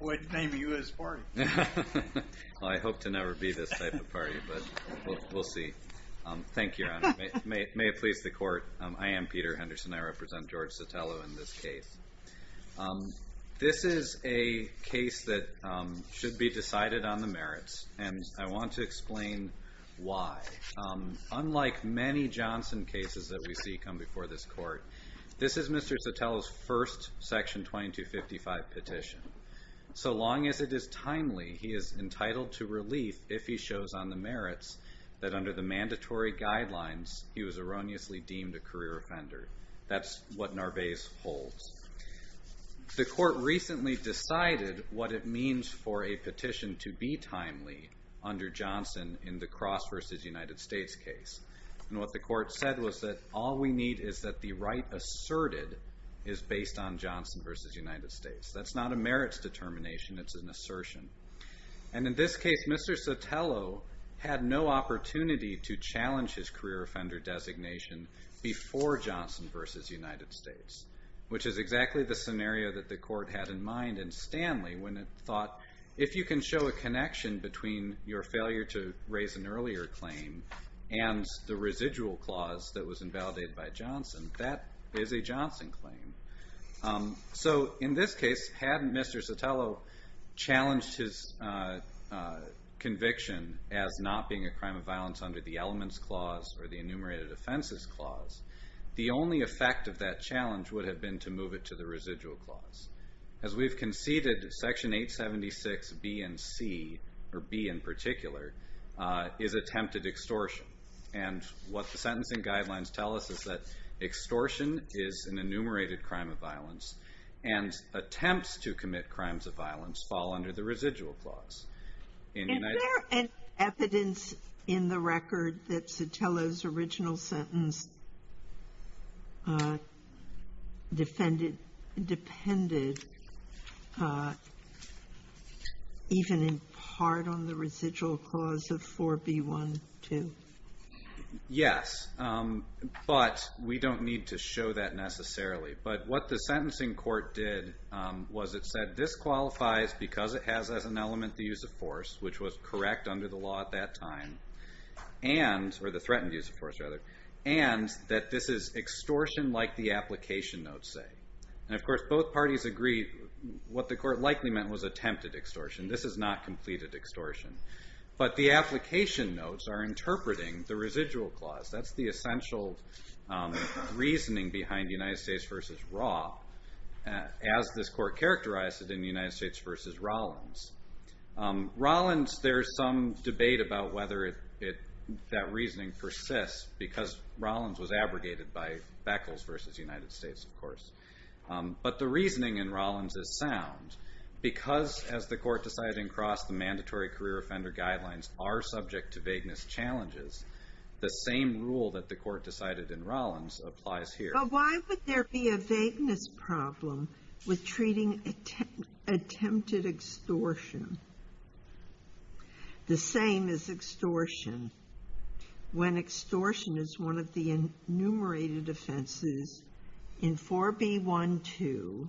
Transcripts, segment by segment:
I am Peter Henderson. I represent George Sotelo in this case. This is a case that should be decided on the merits, and I want to explain why. Unlike many Johnson cases that we see come before this court, this is Mr. Sotelo's first section 2255 petition. So long as it is timely, he is entitled to relief if he shows on the merits that under the mandatory guidelines he was erroneously deemed a career offender. That's what Narvaez holds. The court recently decided what it means for a petition to be timely under Johnson in the Cross v. United States case. And what the court said was that all we need is that the right asserted is based on Johnson v. United States. That's not a merits determination, it's an assertion. And in this case, Mr. Sotelo had no opportunity to challenge his career offender designation before Johnson v. United States, which is exactly the scenario that the court had in mind in Stanley when it thought, if you can show a connection between your failure to claim and the residual clause that was invalidated by Johnson, that is a Johnson claim. So in this case, had Mr. Sotelo challenged his conviction as not being a crime of violence under the Elements Clause or the Enumerated Offenses Clause, the only effect of that challenge would have been to move it to the residual clause. As we've conceded, Section 876B and C, or B in particular, is attempted extortion. And what the sentencing guidelines tell us is that extortion is an enumerated crime of violence, and attempts to commit crimes of violence fall under the residual clause. Is there any evidence in the record that Sotelo's original sentence depended even in part on the residual clause of 4b.1.2? Yes, but we don't need to show that necessarily. But what the sentencing court did was it said, this qualifies because it has as an element the use of force, which was correct under the law at that time, and, or the threatened use of force, rather, and that this is extortion like the application notes say. And of course, both parties agree what the court likely meant was attempted extortion. This is not completed extortion. But the application notes are interpreting the residual clause. That's the essential reasoning behind United States v. Raw, as this court characterized it in United States v. Rawlins. Rawlins, there's some debate about whether that reasoning persists, because Rawlins was abrogated by Beckles v. United States, of course. But the reasoning in Rawlins is sound, because as the court decided in Cross, the mandatory career offender guidelines are subject to vagueness challenges. The same rule that the court decided in Rawlins applies here. But why would there be a vagueness problem with treating attempted extortion the same as extortion, when extortion is one of the enumerated offenses in 4b.1.2.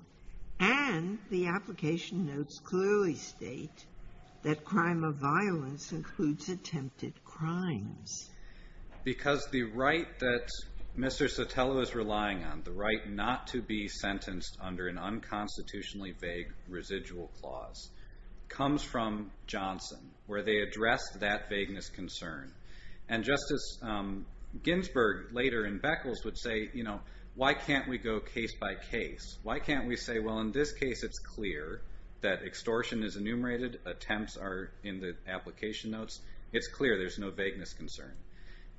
And the application notes clearly state that crime of violence includes attempted crimes. Because the right that Mr. Sotelo is relying on, the right not to be sentenced under an unconstitutionally vague residual clause, comes from Johnson, where they address that vagueness concern. And Justice Ginsburg later in Beckles would say, you know, why can't we go case by case? Why can't we say, well, in this case it's clear that extortion is enumerated, attempts are in the application notes, it's clear there's no vagueness concern.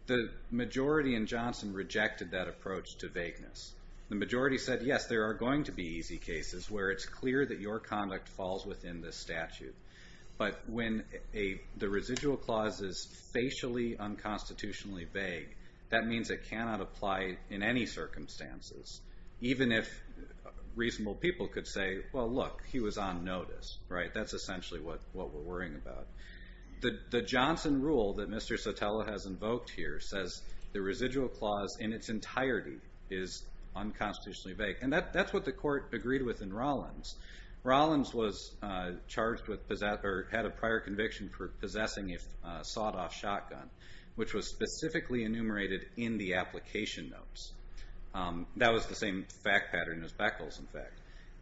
The majority in Johnson rejected that approach to vagueness. The majority said, yes, there are going to be easy cases where it's clear that your conduct falls within the statute. But when the residual clause is facially unconstitutionally vague, that means it cannot apply in any circumstances, even if reasonable people could say, well, look, he was on notice, right? That's what we're worrying about. The Johnson rule that Mr. Sotelo has invoked here says the residual clause in its entirety is unconstitutionally vague. And that's what the court agreed with in Rollins. Rollins was charged with, or had a prior conviction for possessing a sawed-off shotgun, which was specifically enumerated in the application notes. That was the same fact pattern as Beckles, in fact.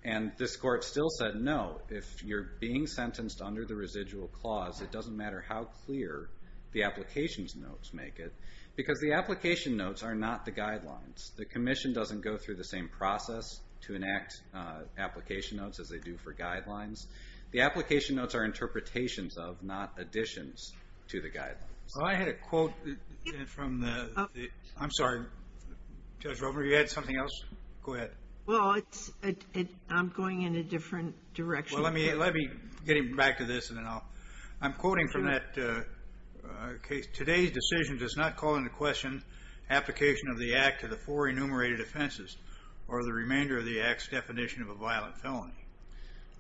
And this court still said, no, if you're being sentenced under the residual clause, it doesn't matter how clear the application notes make it, because the application notes are not the guidelines. The commission doesn't go through the same process to enact application notes as they do for guidelines. The application notes are interpretations of, not additions to the guidelines. Well, I had a quote from the – I'm sorry. Judge Romer, you had something else? Go ahead. Well, it's – I'm going in a different direction. Well, let me – let me get back to this, and then I'll – I'm quoting from that case. Today's decision does not call into question application of the Act to the four enumerated offenses, or the remainder of the Act's definition of a violent felony.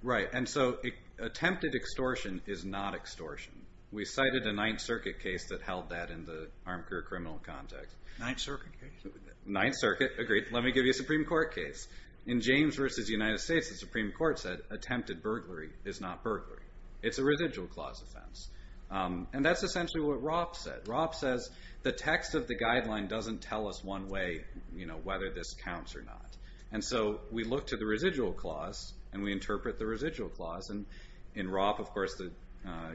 Right. And so attempted extortion is not extortion. We cited a Ninth Circuit case that held that in the armchair criminal context. Ninth Circuit case? Ninth Circuit. Agreed. Let me give you a Supreme Court case. In James v. United States, the Supreme Court said attempted burglary is not burglary. It's a residual clause offense. And that's essentially what Ropp said. Ropp says the text of the guideline doesn't tell us one way, you know, whether this counts or not. And so we look to the residual clause, and we interpret the residual clause. And in Ropp, of course, the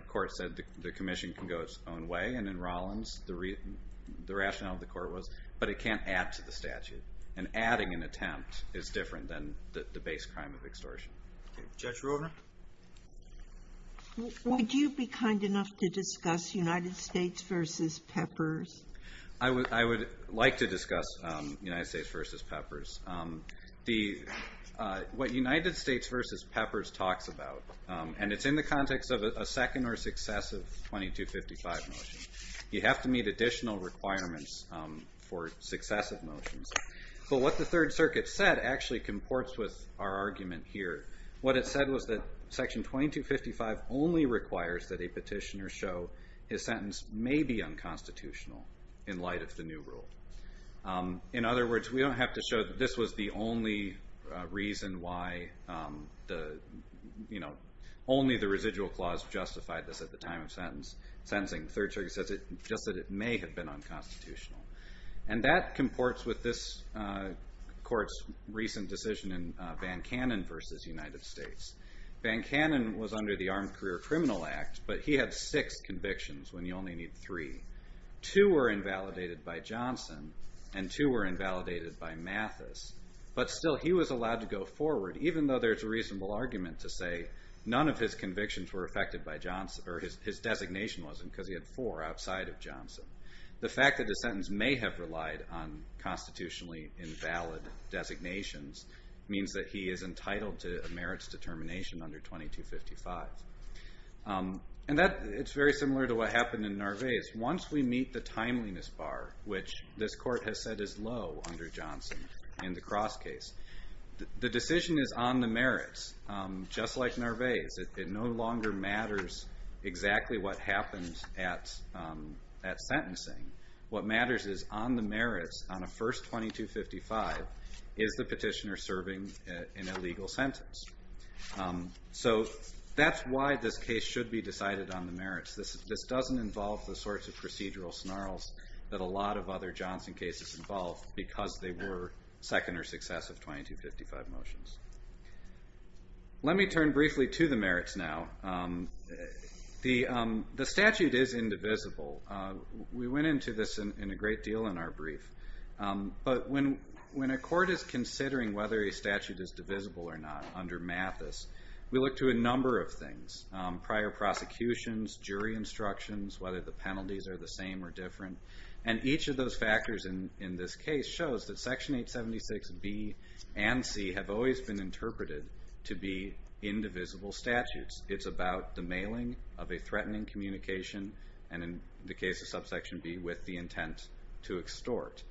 court said the commission can go its own way. And in Rollins, the rationale of the court was, but it can't add to the statute. And adding an attempt is different than the base crime of extortion. Judge Romer? Would you be kind enough to discuss United States v. Peppers? I would like to discuss United States v. Peppers. What United States v. Peppers talks about, and it's in the context of a second or successive 2255 motion, you have to meet additional requirements for successive motions. But what the Third Circuit said actually comports with our argument here. What it said was that Section 2255 only requires that a petitioner show his sentence may be unconstitutional in light of the new rule. In other words, we don't have to show that this was the only reason why only the residual clause justified this at the time of sentencing. The Third Circuit says just that it may have been unconstitutional. And that comports with this court's recent decision in Van Cannon v. United States. Van Cannon was under the Armed Career Criminal Act, but he had six convictions when you only need three. Two were invalidated by Johnson, and two were invalidated by Mathis. But still, he was allowed to go forward, even though there's a reasonable argument to say none of his convictions were affected by Johnson, or his designation wasn't, because he had four outside of Johnson. The fact that the sentence may have relied on constitutionally invalid designations means that he is entitled to a merits determination under 2255. And it's very similar to what happened in Narvaez. Once we meet the timeliness bar, which this court has said is low under Johnson in the Cross case, the decision is on the merits, just like Narvaez. It no longer matters exactly what happened at sentencing. What matters is on the merits, on a first 2255, is the petitioner serving an illegal sentence? So that's why this case should be decided on the merits. This doesn't involve the sorts of procedural snarls that a lot of other Johnson cases involve, because they were second or successive 2255 motions. Let me turn briefly to the merits now. The statute is indivisible. We went into this in a great deal in our brief. But when a court is considering whether a statute is divisible or not under Mathis, we look to a number of things. Prior prosecutions, jury instructions, whether the penalties are the same or different. And each of those factors in this case shows that Section 876B and C have always been interpreted to be indivisible statutes. It's about the mailing of a threatening communication, and in the case of Subsection B, with the intent to extort.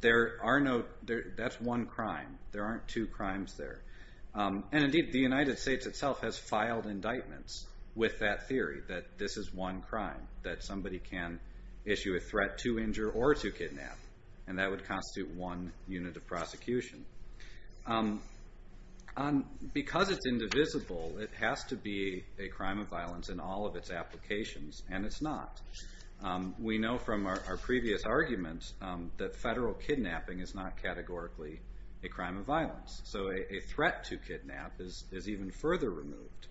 That's one crime. There aren't two crimes there. And indeed, the United States itself has filed indictments with that theory, that this is one crime, that somebody can issue a threat to injure or to kidnap, and that would constitute one unit of prosecution. Because it's indivisible, it has to be a crime of violence in all of its applications, and it's not. We know from our previous arguments that federal kidnapping is not categorically a crime of violence. So a threat to kidnap is even further removed.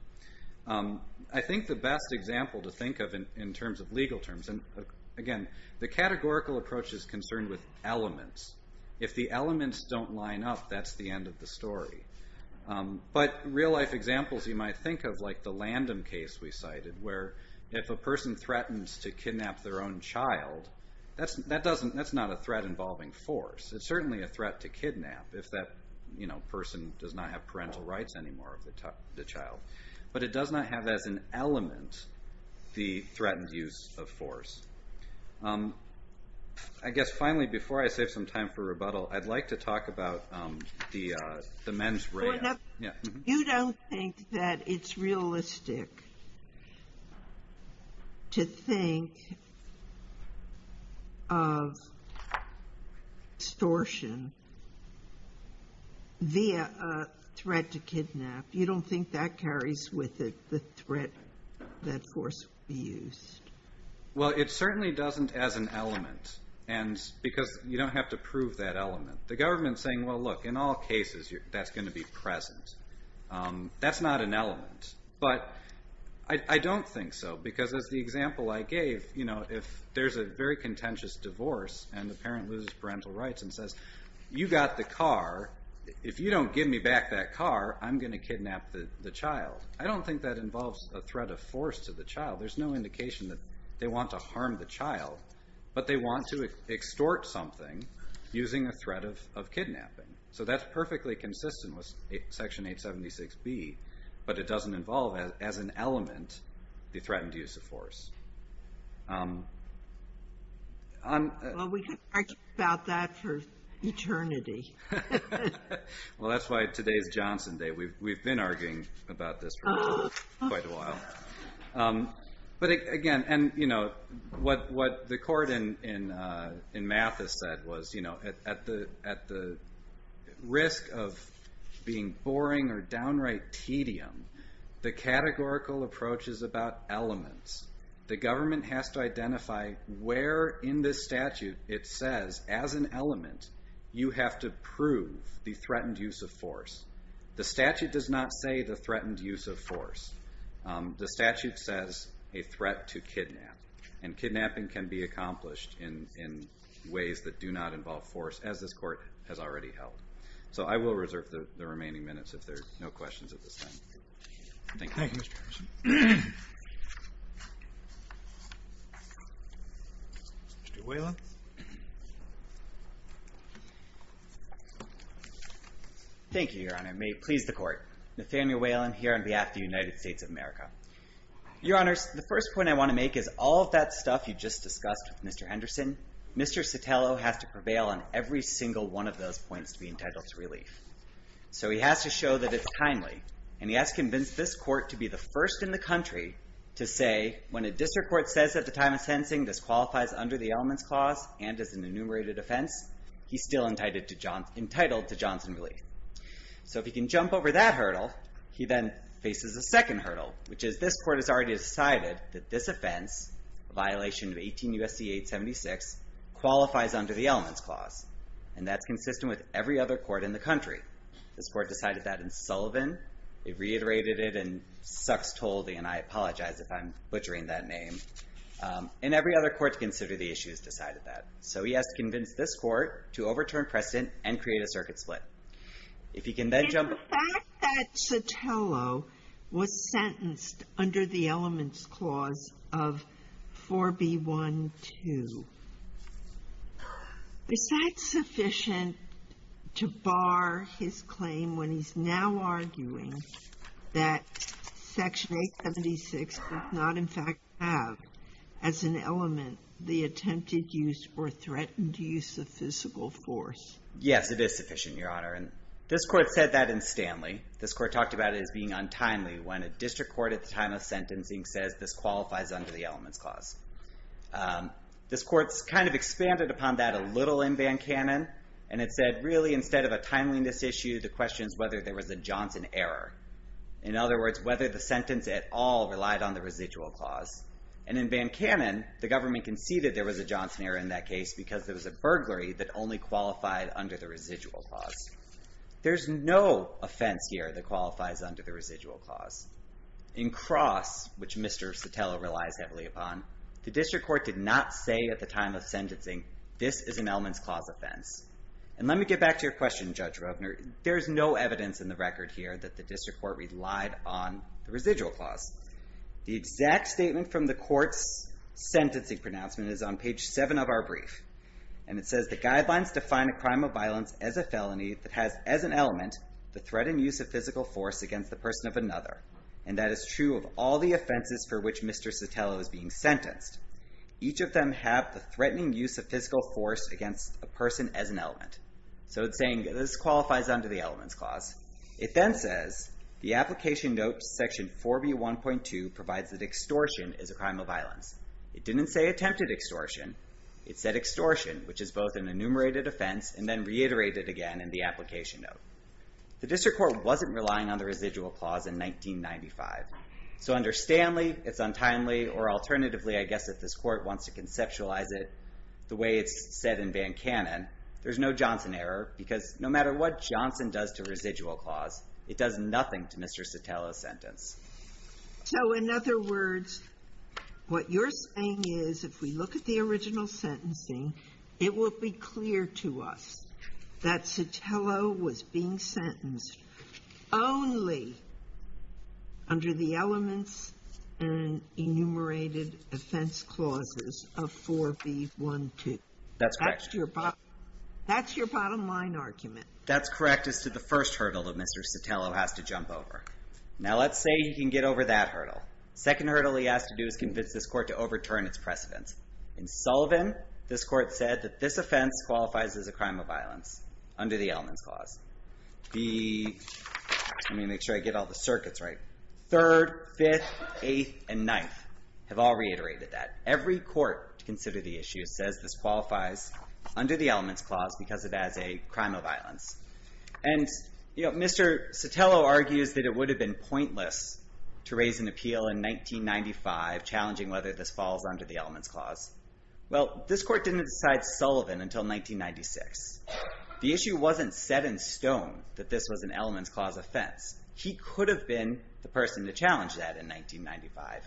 I think the best example to think of in terms of legal terms, and again, the categorical approach is concerned with elements. If the elements don't line up, that's the end of the story. But real-life examples you might think of, like the Landon case we cited, where if a person threatens to kidnap their own child, that's not a threat involving force. It's certainly a threat to kidnap if that person does not have parental rights anymore of the child. But it does not have as an element the threatened use of force. I guess finally, before I save some time for rebuttal, I'd like to talk about the men's rape. You don't think that it's realistic to think of extortion via a threat to kidnap. You don't think that carries with it the threat that force would be used? Well, it certainly doesn't as an element, because you don't have to prove that element. The government's saying, well, look, in all cases, that's going to be present. That's not an element. But I don't think so, because as the example I gave, if there's a very contentious divorce and the parent loses parental rights and says, you got the car, if you don't give me back that car, I'm going to kidnap the child. I don't think that involves a threat of force to the child. There's no indication that they want to harm the child, but they want to extort something using a threat of kidnapping. So that's perfectly consistent with Section 876B, but it doesn't involve as an element the threatened use of force. Well, we could argue about that for eternity. Well, that's why today's Johnson Day. We've been arguing about this for quite a while. But again, what the court in Mathis said was, at the risk of being boring or downright tedium, the categorical approach is about elements. The government has to identify where in this statute it says, as an element, you have to prove the threatened use of force. The statute does not say the threatened use of force. The statute says a threat to kidnap, and kidnapping can be accomplished in ways that do not involve force, as this court has already held. So I will reserve the remaining minutes if there are no questions at this time. Thank you, Mr. Henderson. Mr. Whalen. Thank you, Your Honor. May it please the court. Nathaniel Whalen here on behalf of the United States of America. Your Honors, the first point I want to make is all of that stuff you just discussed with Mr. Henderson, Mr. Sotelo has to prevail on every single one of those points to be entitled to relief. So he has to show that it's timely, and he has to convince this court to be the first in the country to say, when a district court says at the time of sentencing this qualifies under the Elements Clause and is an enumerated offense, he's still entitled to Johnson relief. So if he can jump over that hurdle, he then faces a second hurdle, which is this court has already decided that this offense, a violation of 18 U.S.C. 876, qualifies under the Elements Clause. And that's consistent with every other court in the country. This court decided that in Sullivan. It reiterated it in Sux-Toldy, and I apologize if I'm butchering that name. And every other court to consider the issues decided that. So he has to convince this court to overturn precedent and create a circuit split. If he can then jump— The fact that Sotelo was sentenced under the Elements Clause of 4B12, is that sufficient to bar his claim when he's now arguing that Section 876 does not, in fact, have as an element the attempted use or threatened use of physical force? Yes, it is sufficient, Your Honor, and this court said that in Stanley. This court talked about it as being untimely when a district court at the time of sentencing says this qualifies under the Elements Clause. This court's kind of expanded upon that a little in Van Cannon, and it said really instead of a timeliness issue, the question is whether there was a Johnson error. In other words, whether the sentence at all relied on the Residual Clause. And in Van Cannon, the government conceded there was a Johnson error in that case because there was a burglary that only qualified under the Residual Clause. There's no offense here that qualifies under the Residual Clause. In Cross, which Mr. Sotelo relies heavily upon, the district court did not say at the time of sentencing, this is an Elements Clause offense. And let me get back to your question, Judge Rovner. There is no evidence in the record here that the district court relied on the Residual Clause. The exact statement from the court's sentencing pronouncement is on page 7 of our brief, and it says the guidelines define a crime of violence as a felony that has as an element the threat and use of physical force against the person of another, and that is true of all the offenses for which Mr. Sotelo is being sentenced. Each of them have the threatening use of physical force against a person as an element. So it's saying this qualifies under the Elements Clause. It then says the application note section 4B1.2 provides that extortion is a crime of violence. It didn't say attempted extortion. It said extortion, which is both an enumerated offense and then reiterated again in the application note. The district court wasn't relying on the Residual Clause in 1995. So understandably, it's untimely, or alternatively, I guess if this court wants to conceptualize it the way it's said in Van Cannon, there's no Johnson error, because no matter what Johnson does to Residual Clause, it does nothing to Mr. Sotelo's sentence. So in other words, what you're saying is if we look at the original sentencing, it will be clear to us that Sotelo was being sentenced only under the elements and enumerated offense clauses of 4B1.2. That's correct. That's your bottom line argument. That's correct as to the first hurdle that Mr. Sotelo has to jump over. Now let's say he can get over that hurdle. The second hurdle he has to do is convince this court to overturn its precedence. In Sullivan, this court said that this offense qualifies as a crime of violence under the elements clause. Let me make sure I get all the circuits right. Third, fifth, eighth, and ninth have all reiterated that. Every court to consider the issue says this qualifies under the elements clause because it has a crime of violence. And Mr. Sotelo argues that it would have been pointless to raise an appeal in 1995 challenging whether this falls under the elements clause. Well, this court didn't decide Sullivan until 1996. The issue wasn't set in stone that this was an elements clause offense. He could have been the person to challenge that in 1995.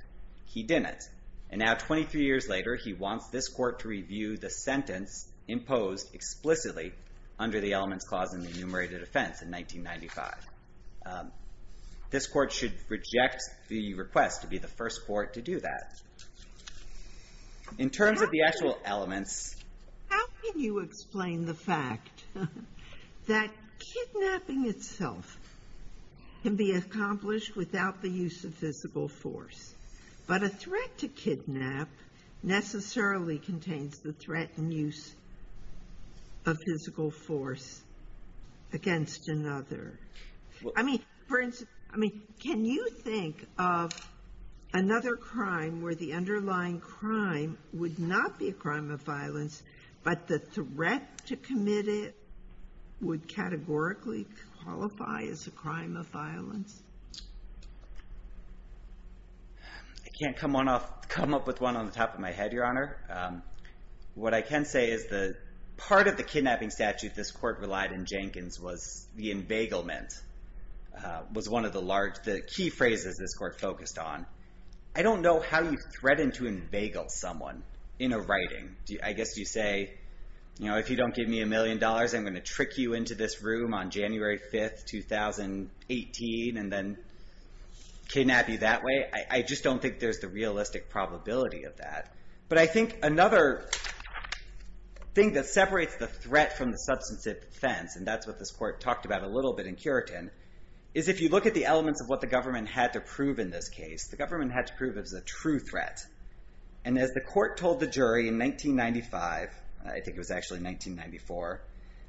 He didn't, and now 23 years later, he wants this court to review the sentence imposed explicitly under the elements clause in the enumerated offense in 1995. This court should reject the request to be the first court to do that. In terms of the actual elements... How can you explain the fact that kidnapping itself can be accomplished without the use of physical force, but a threat to kidnap necessarily contains the threat and use of physical force against another? I mean, for instance, can you think of another crime where the underlying crime would not be a crime of violence, but the threat to commit it would categorically qualify as a crime of violence? I can't come up with one on the top of my head, Your Honor. What I can say is part of the kidnapping statute this court relied on Jenkins was the embegglement was one of the key phrases this court focused on. I don't know how you threaten to embeggle someone in a writing. I guess you say, if you don't give me a million dollars, I'm going to trick you into this room on January 5th, 2018, and then kidnap you that way. I just don't think there's the realistic probability of that. But I think another thing that separates the threat from the substantive defense, and that's what this court talked about a little bit in Curitin, is if you look at the elements of what the government had to prove in this case, the government had to prove it was a true threat. And as the court told the jury in 1995, I think it was actually 1994,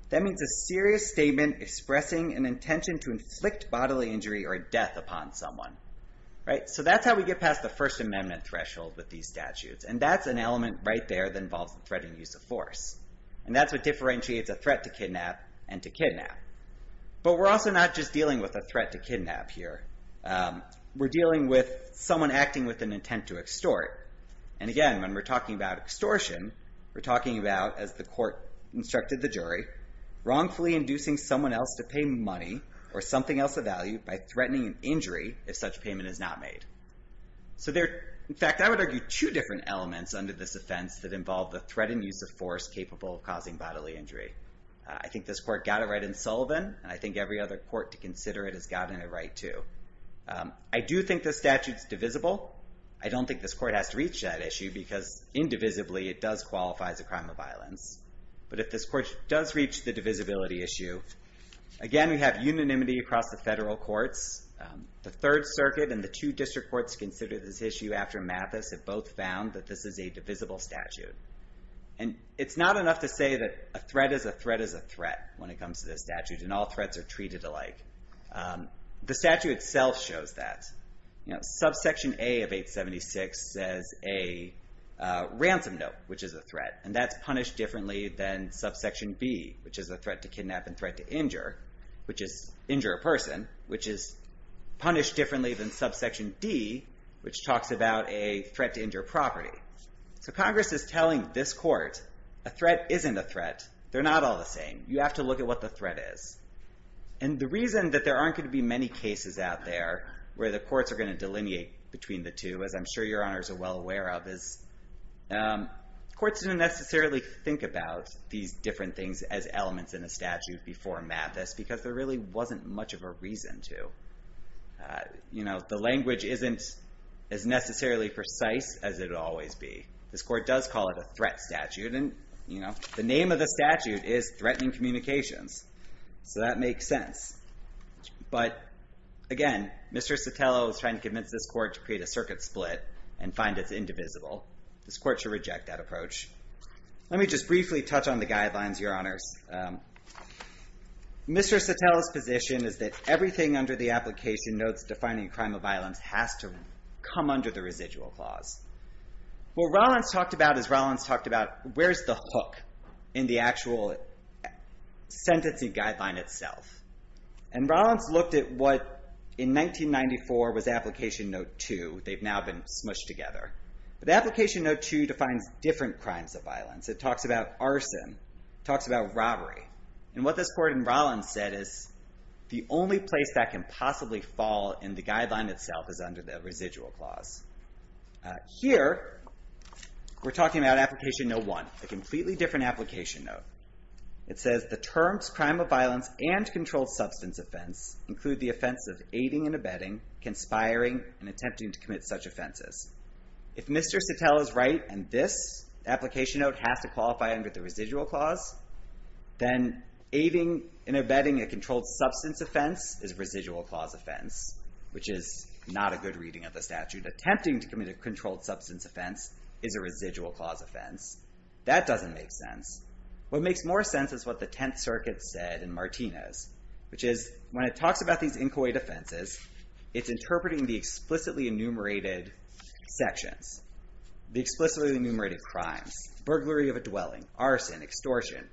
that means a serious statement expressing an intention to inflict bodily injury or death upon someone. So that's how we get past the First Amendment threshold with these statutes. And that's an element right there that involves the threatening use of force. And that's what differentiates a threat to kidnap and to kidnap. But we're also not just dealing with a threat to kidnap here. We're dealing with someone acting with an intent to extort. And again, when we're talking about extortion, we're talking about, as the court instructed the jury, wrongfully inducing someone else to pay money or something else of value by threatening an injury if such payment is not made. In fact, I would argue two different elements under this offense that involve the threatened use of force capable of causing bodily injury. I think this court got it right in Sullivan, and I think every other court to consider it has gotten it right too. I do think the statute's divisible. I don't think this court has to reach that issue because indivisibly it does qualify as a crime of violence. But if this court does reach the divisibility issue, again, we have unanimity across the federal courts. The Third Circuit and the two district courts considered this issue after Mathis have both found that this is a divisible statute. And it's not enough to say that a threat is a threat is a threat when it comes to this statute, and all threats are treated alike. The statute itself shows that. Subsection A of 876 says a ransom note, which is a threat, and that's punished differently than subsection B, which is a threat to kidnap and threat to injure, which is injure a person, which is punished differently than subsection D, which talks about a threat to injure property. So Congress is telling this court a threat isn't a threat. They're not all the same. You have to look at what the threat is. And the reason that there aren't going to be many cases out there where the courts are going to delineate between the two, as I'm sure your honors are well aware of, is courts didn't necessarily think about these different things as elements in a statute before Mathis because there really wasn't much of a reason to. The language isn't as necessarily precise as it would always be. This court does call it a threat statute, and the name of the statute is threatening communications. So that makes sense. But again, Mr. Sotelo is trying to convince this court to create a circuit split and find it's indivisible. This court should reject that approach. Let me just briefly touch on the guidelines, your honors. Mr. Sotelo's position is that everything under the application notes defining a crime of violence has to come under the residual clause. What Rollins talked about is Rollins talked about where's the hook in the actual sentencing guideline itself. And Rollins looked at what in 1994 was application note 2. They've now been smushed together. But application note 2 defines different crimes of violence. It talks about arson. It talks about robbery. And what this court in Rollins said is the only place that can possibly fall in the guideline itself is under the residual clause. Here we're talking about application note 1, a completely different application note. It says the terms crime of violence and controlled substance offense include the offense of aiding and abetting, conspiring, and attempting to commit such offenses. If Mr. Sotelo is right and this application note has to qualify under the residual clause, then aiding and abetting a controlled substance offense is a residual clause offense, which is not a good reading of the statute. Attempting to commit a controlled substance offense is a residual clause offense. That doesn't make sense. What makes more sense is what the Tenth Circuit said in Martinez, which is when it talks about these inchoate offenses, it's interpreting the explicitly enumerated sections, the explicitly enumerated crimes, burglary of a dwelling, arson, extortion,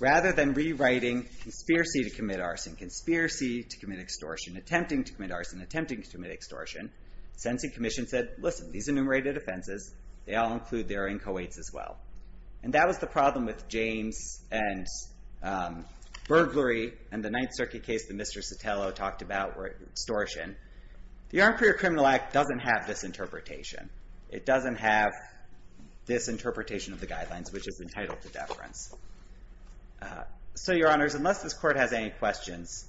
rather than rewriting conspiracy to commit arson, conspiracy to commit extortion, attempting to commit arson, attempting to commit extortion. The sentencing commission said, listen, these enumerated offenses, they all include their inchoates as well. And that was the problem with James and burglary and the Ninth Circuit case that Mr. Sotelo talked about, extortion. The Armed Career Criminal Act doesn't have this interpretation. It doesn't have this interpretation of the guidelines, which is entitled to deference. So, Your Honors, unless this Court has any questions,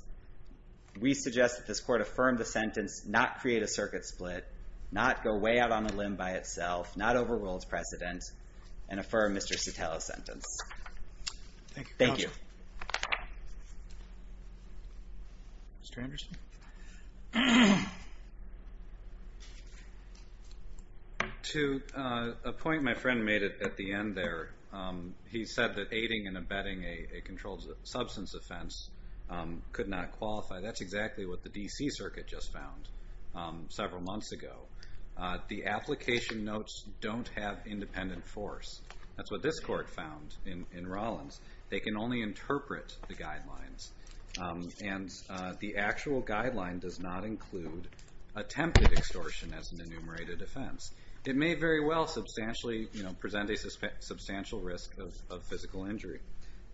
we suggest that this Court affirm the sentence, not create a circuit split, not go way out on a limb by itself, not overrule its precedent, and affirm Mr. Sotelo's sentence. Thank you. To a point my friend made at the end there, he said that aiding and abetting a controlled substance offense could not qualify. That's exactly what the D.C. Circuit just found several months ago. The application notes don't have independent force. That's what this Court found in Rollins. They can only interpret the guidelines. And the actual guideline does not include attempted extortion as an enumerated offense. It may very well substantially present a substantial risk of physical injury.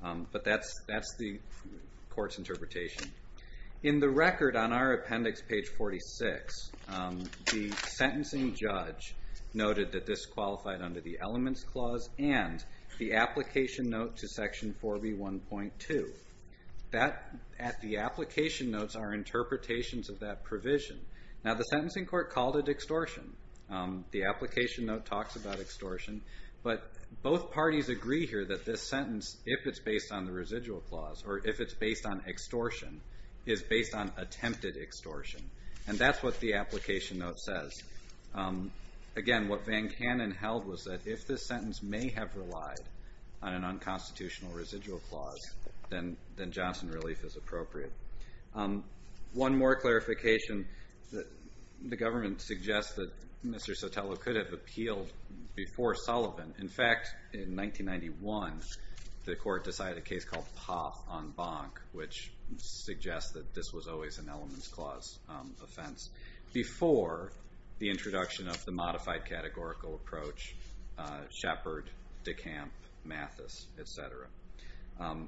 But that's the Court's interpretation. In the record on our appendix, page 46, the sentencing judge noted that this qualified under the Elements Clause and the application note to section 4B1.2. At the application notes are interpretations of that provision. Now, the sentencing court called it extortion. The application note talks about extortion. But both parties agree here that this sentence, if it's based on the residual clause or if it's based on extortion, is based on attempted extortion. And that's what the application note says. Again, what Van Cannon held was that if this sentence may have relied on an unconstitutional residual clause, then Johnson relief is appropriate. One more clarification. The government suggests that Mr. Sotelo could have appealed before Sullivan. In fact, in 1991, the Court decided a case called Pop on Bonk, which suggests that this was always an Elements Clause offense, before the introduction of the modified categorical approach, Shepard, DeCamp, Mathis, et cetera.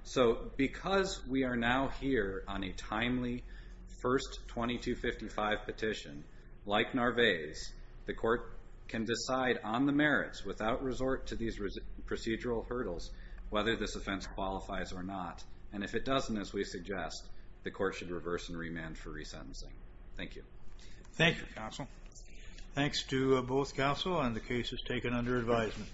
So because we are now here on a timely first 2255 petition, like Narvaez, the Court can decide on the merits without resort to these procedural hurdles whether this offense qualifies or not. And if it doesn't, as we suggest, the Court should reverse and remand for resentencing. Thank you. Thank you, counsel. Thanks to both counsel and the cases taken under advisement.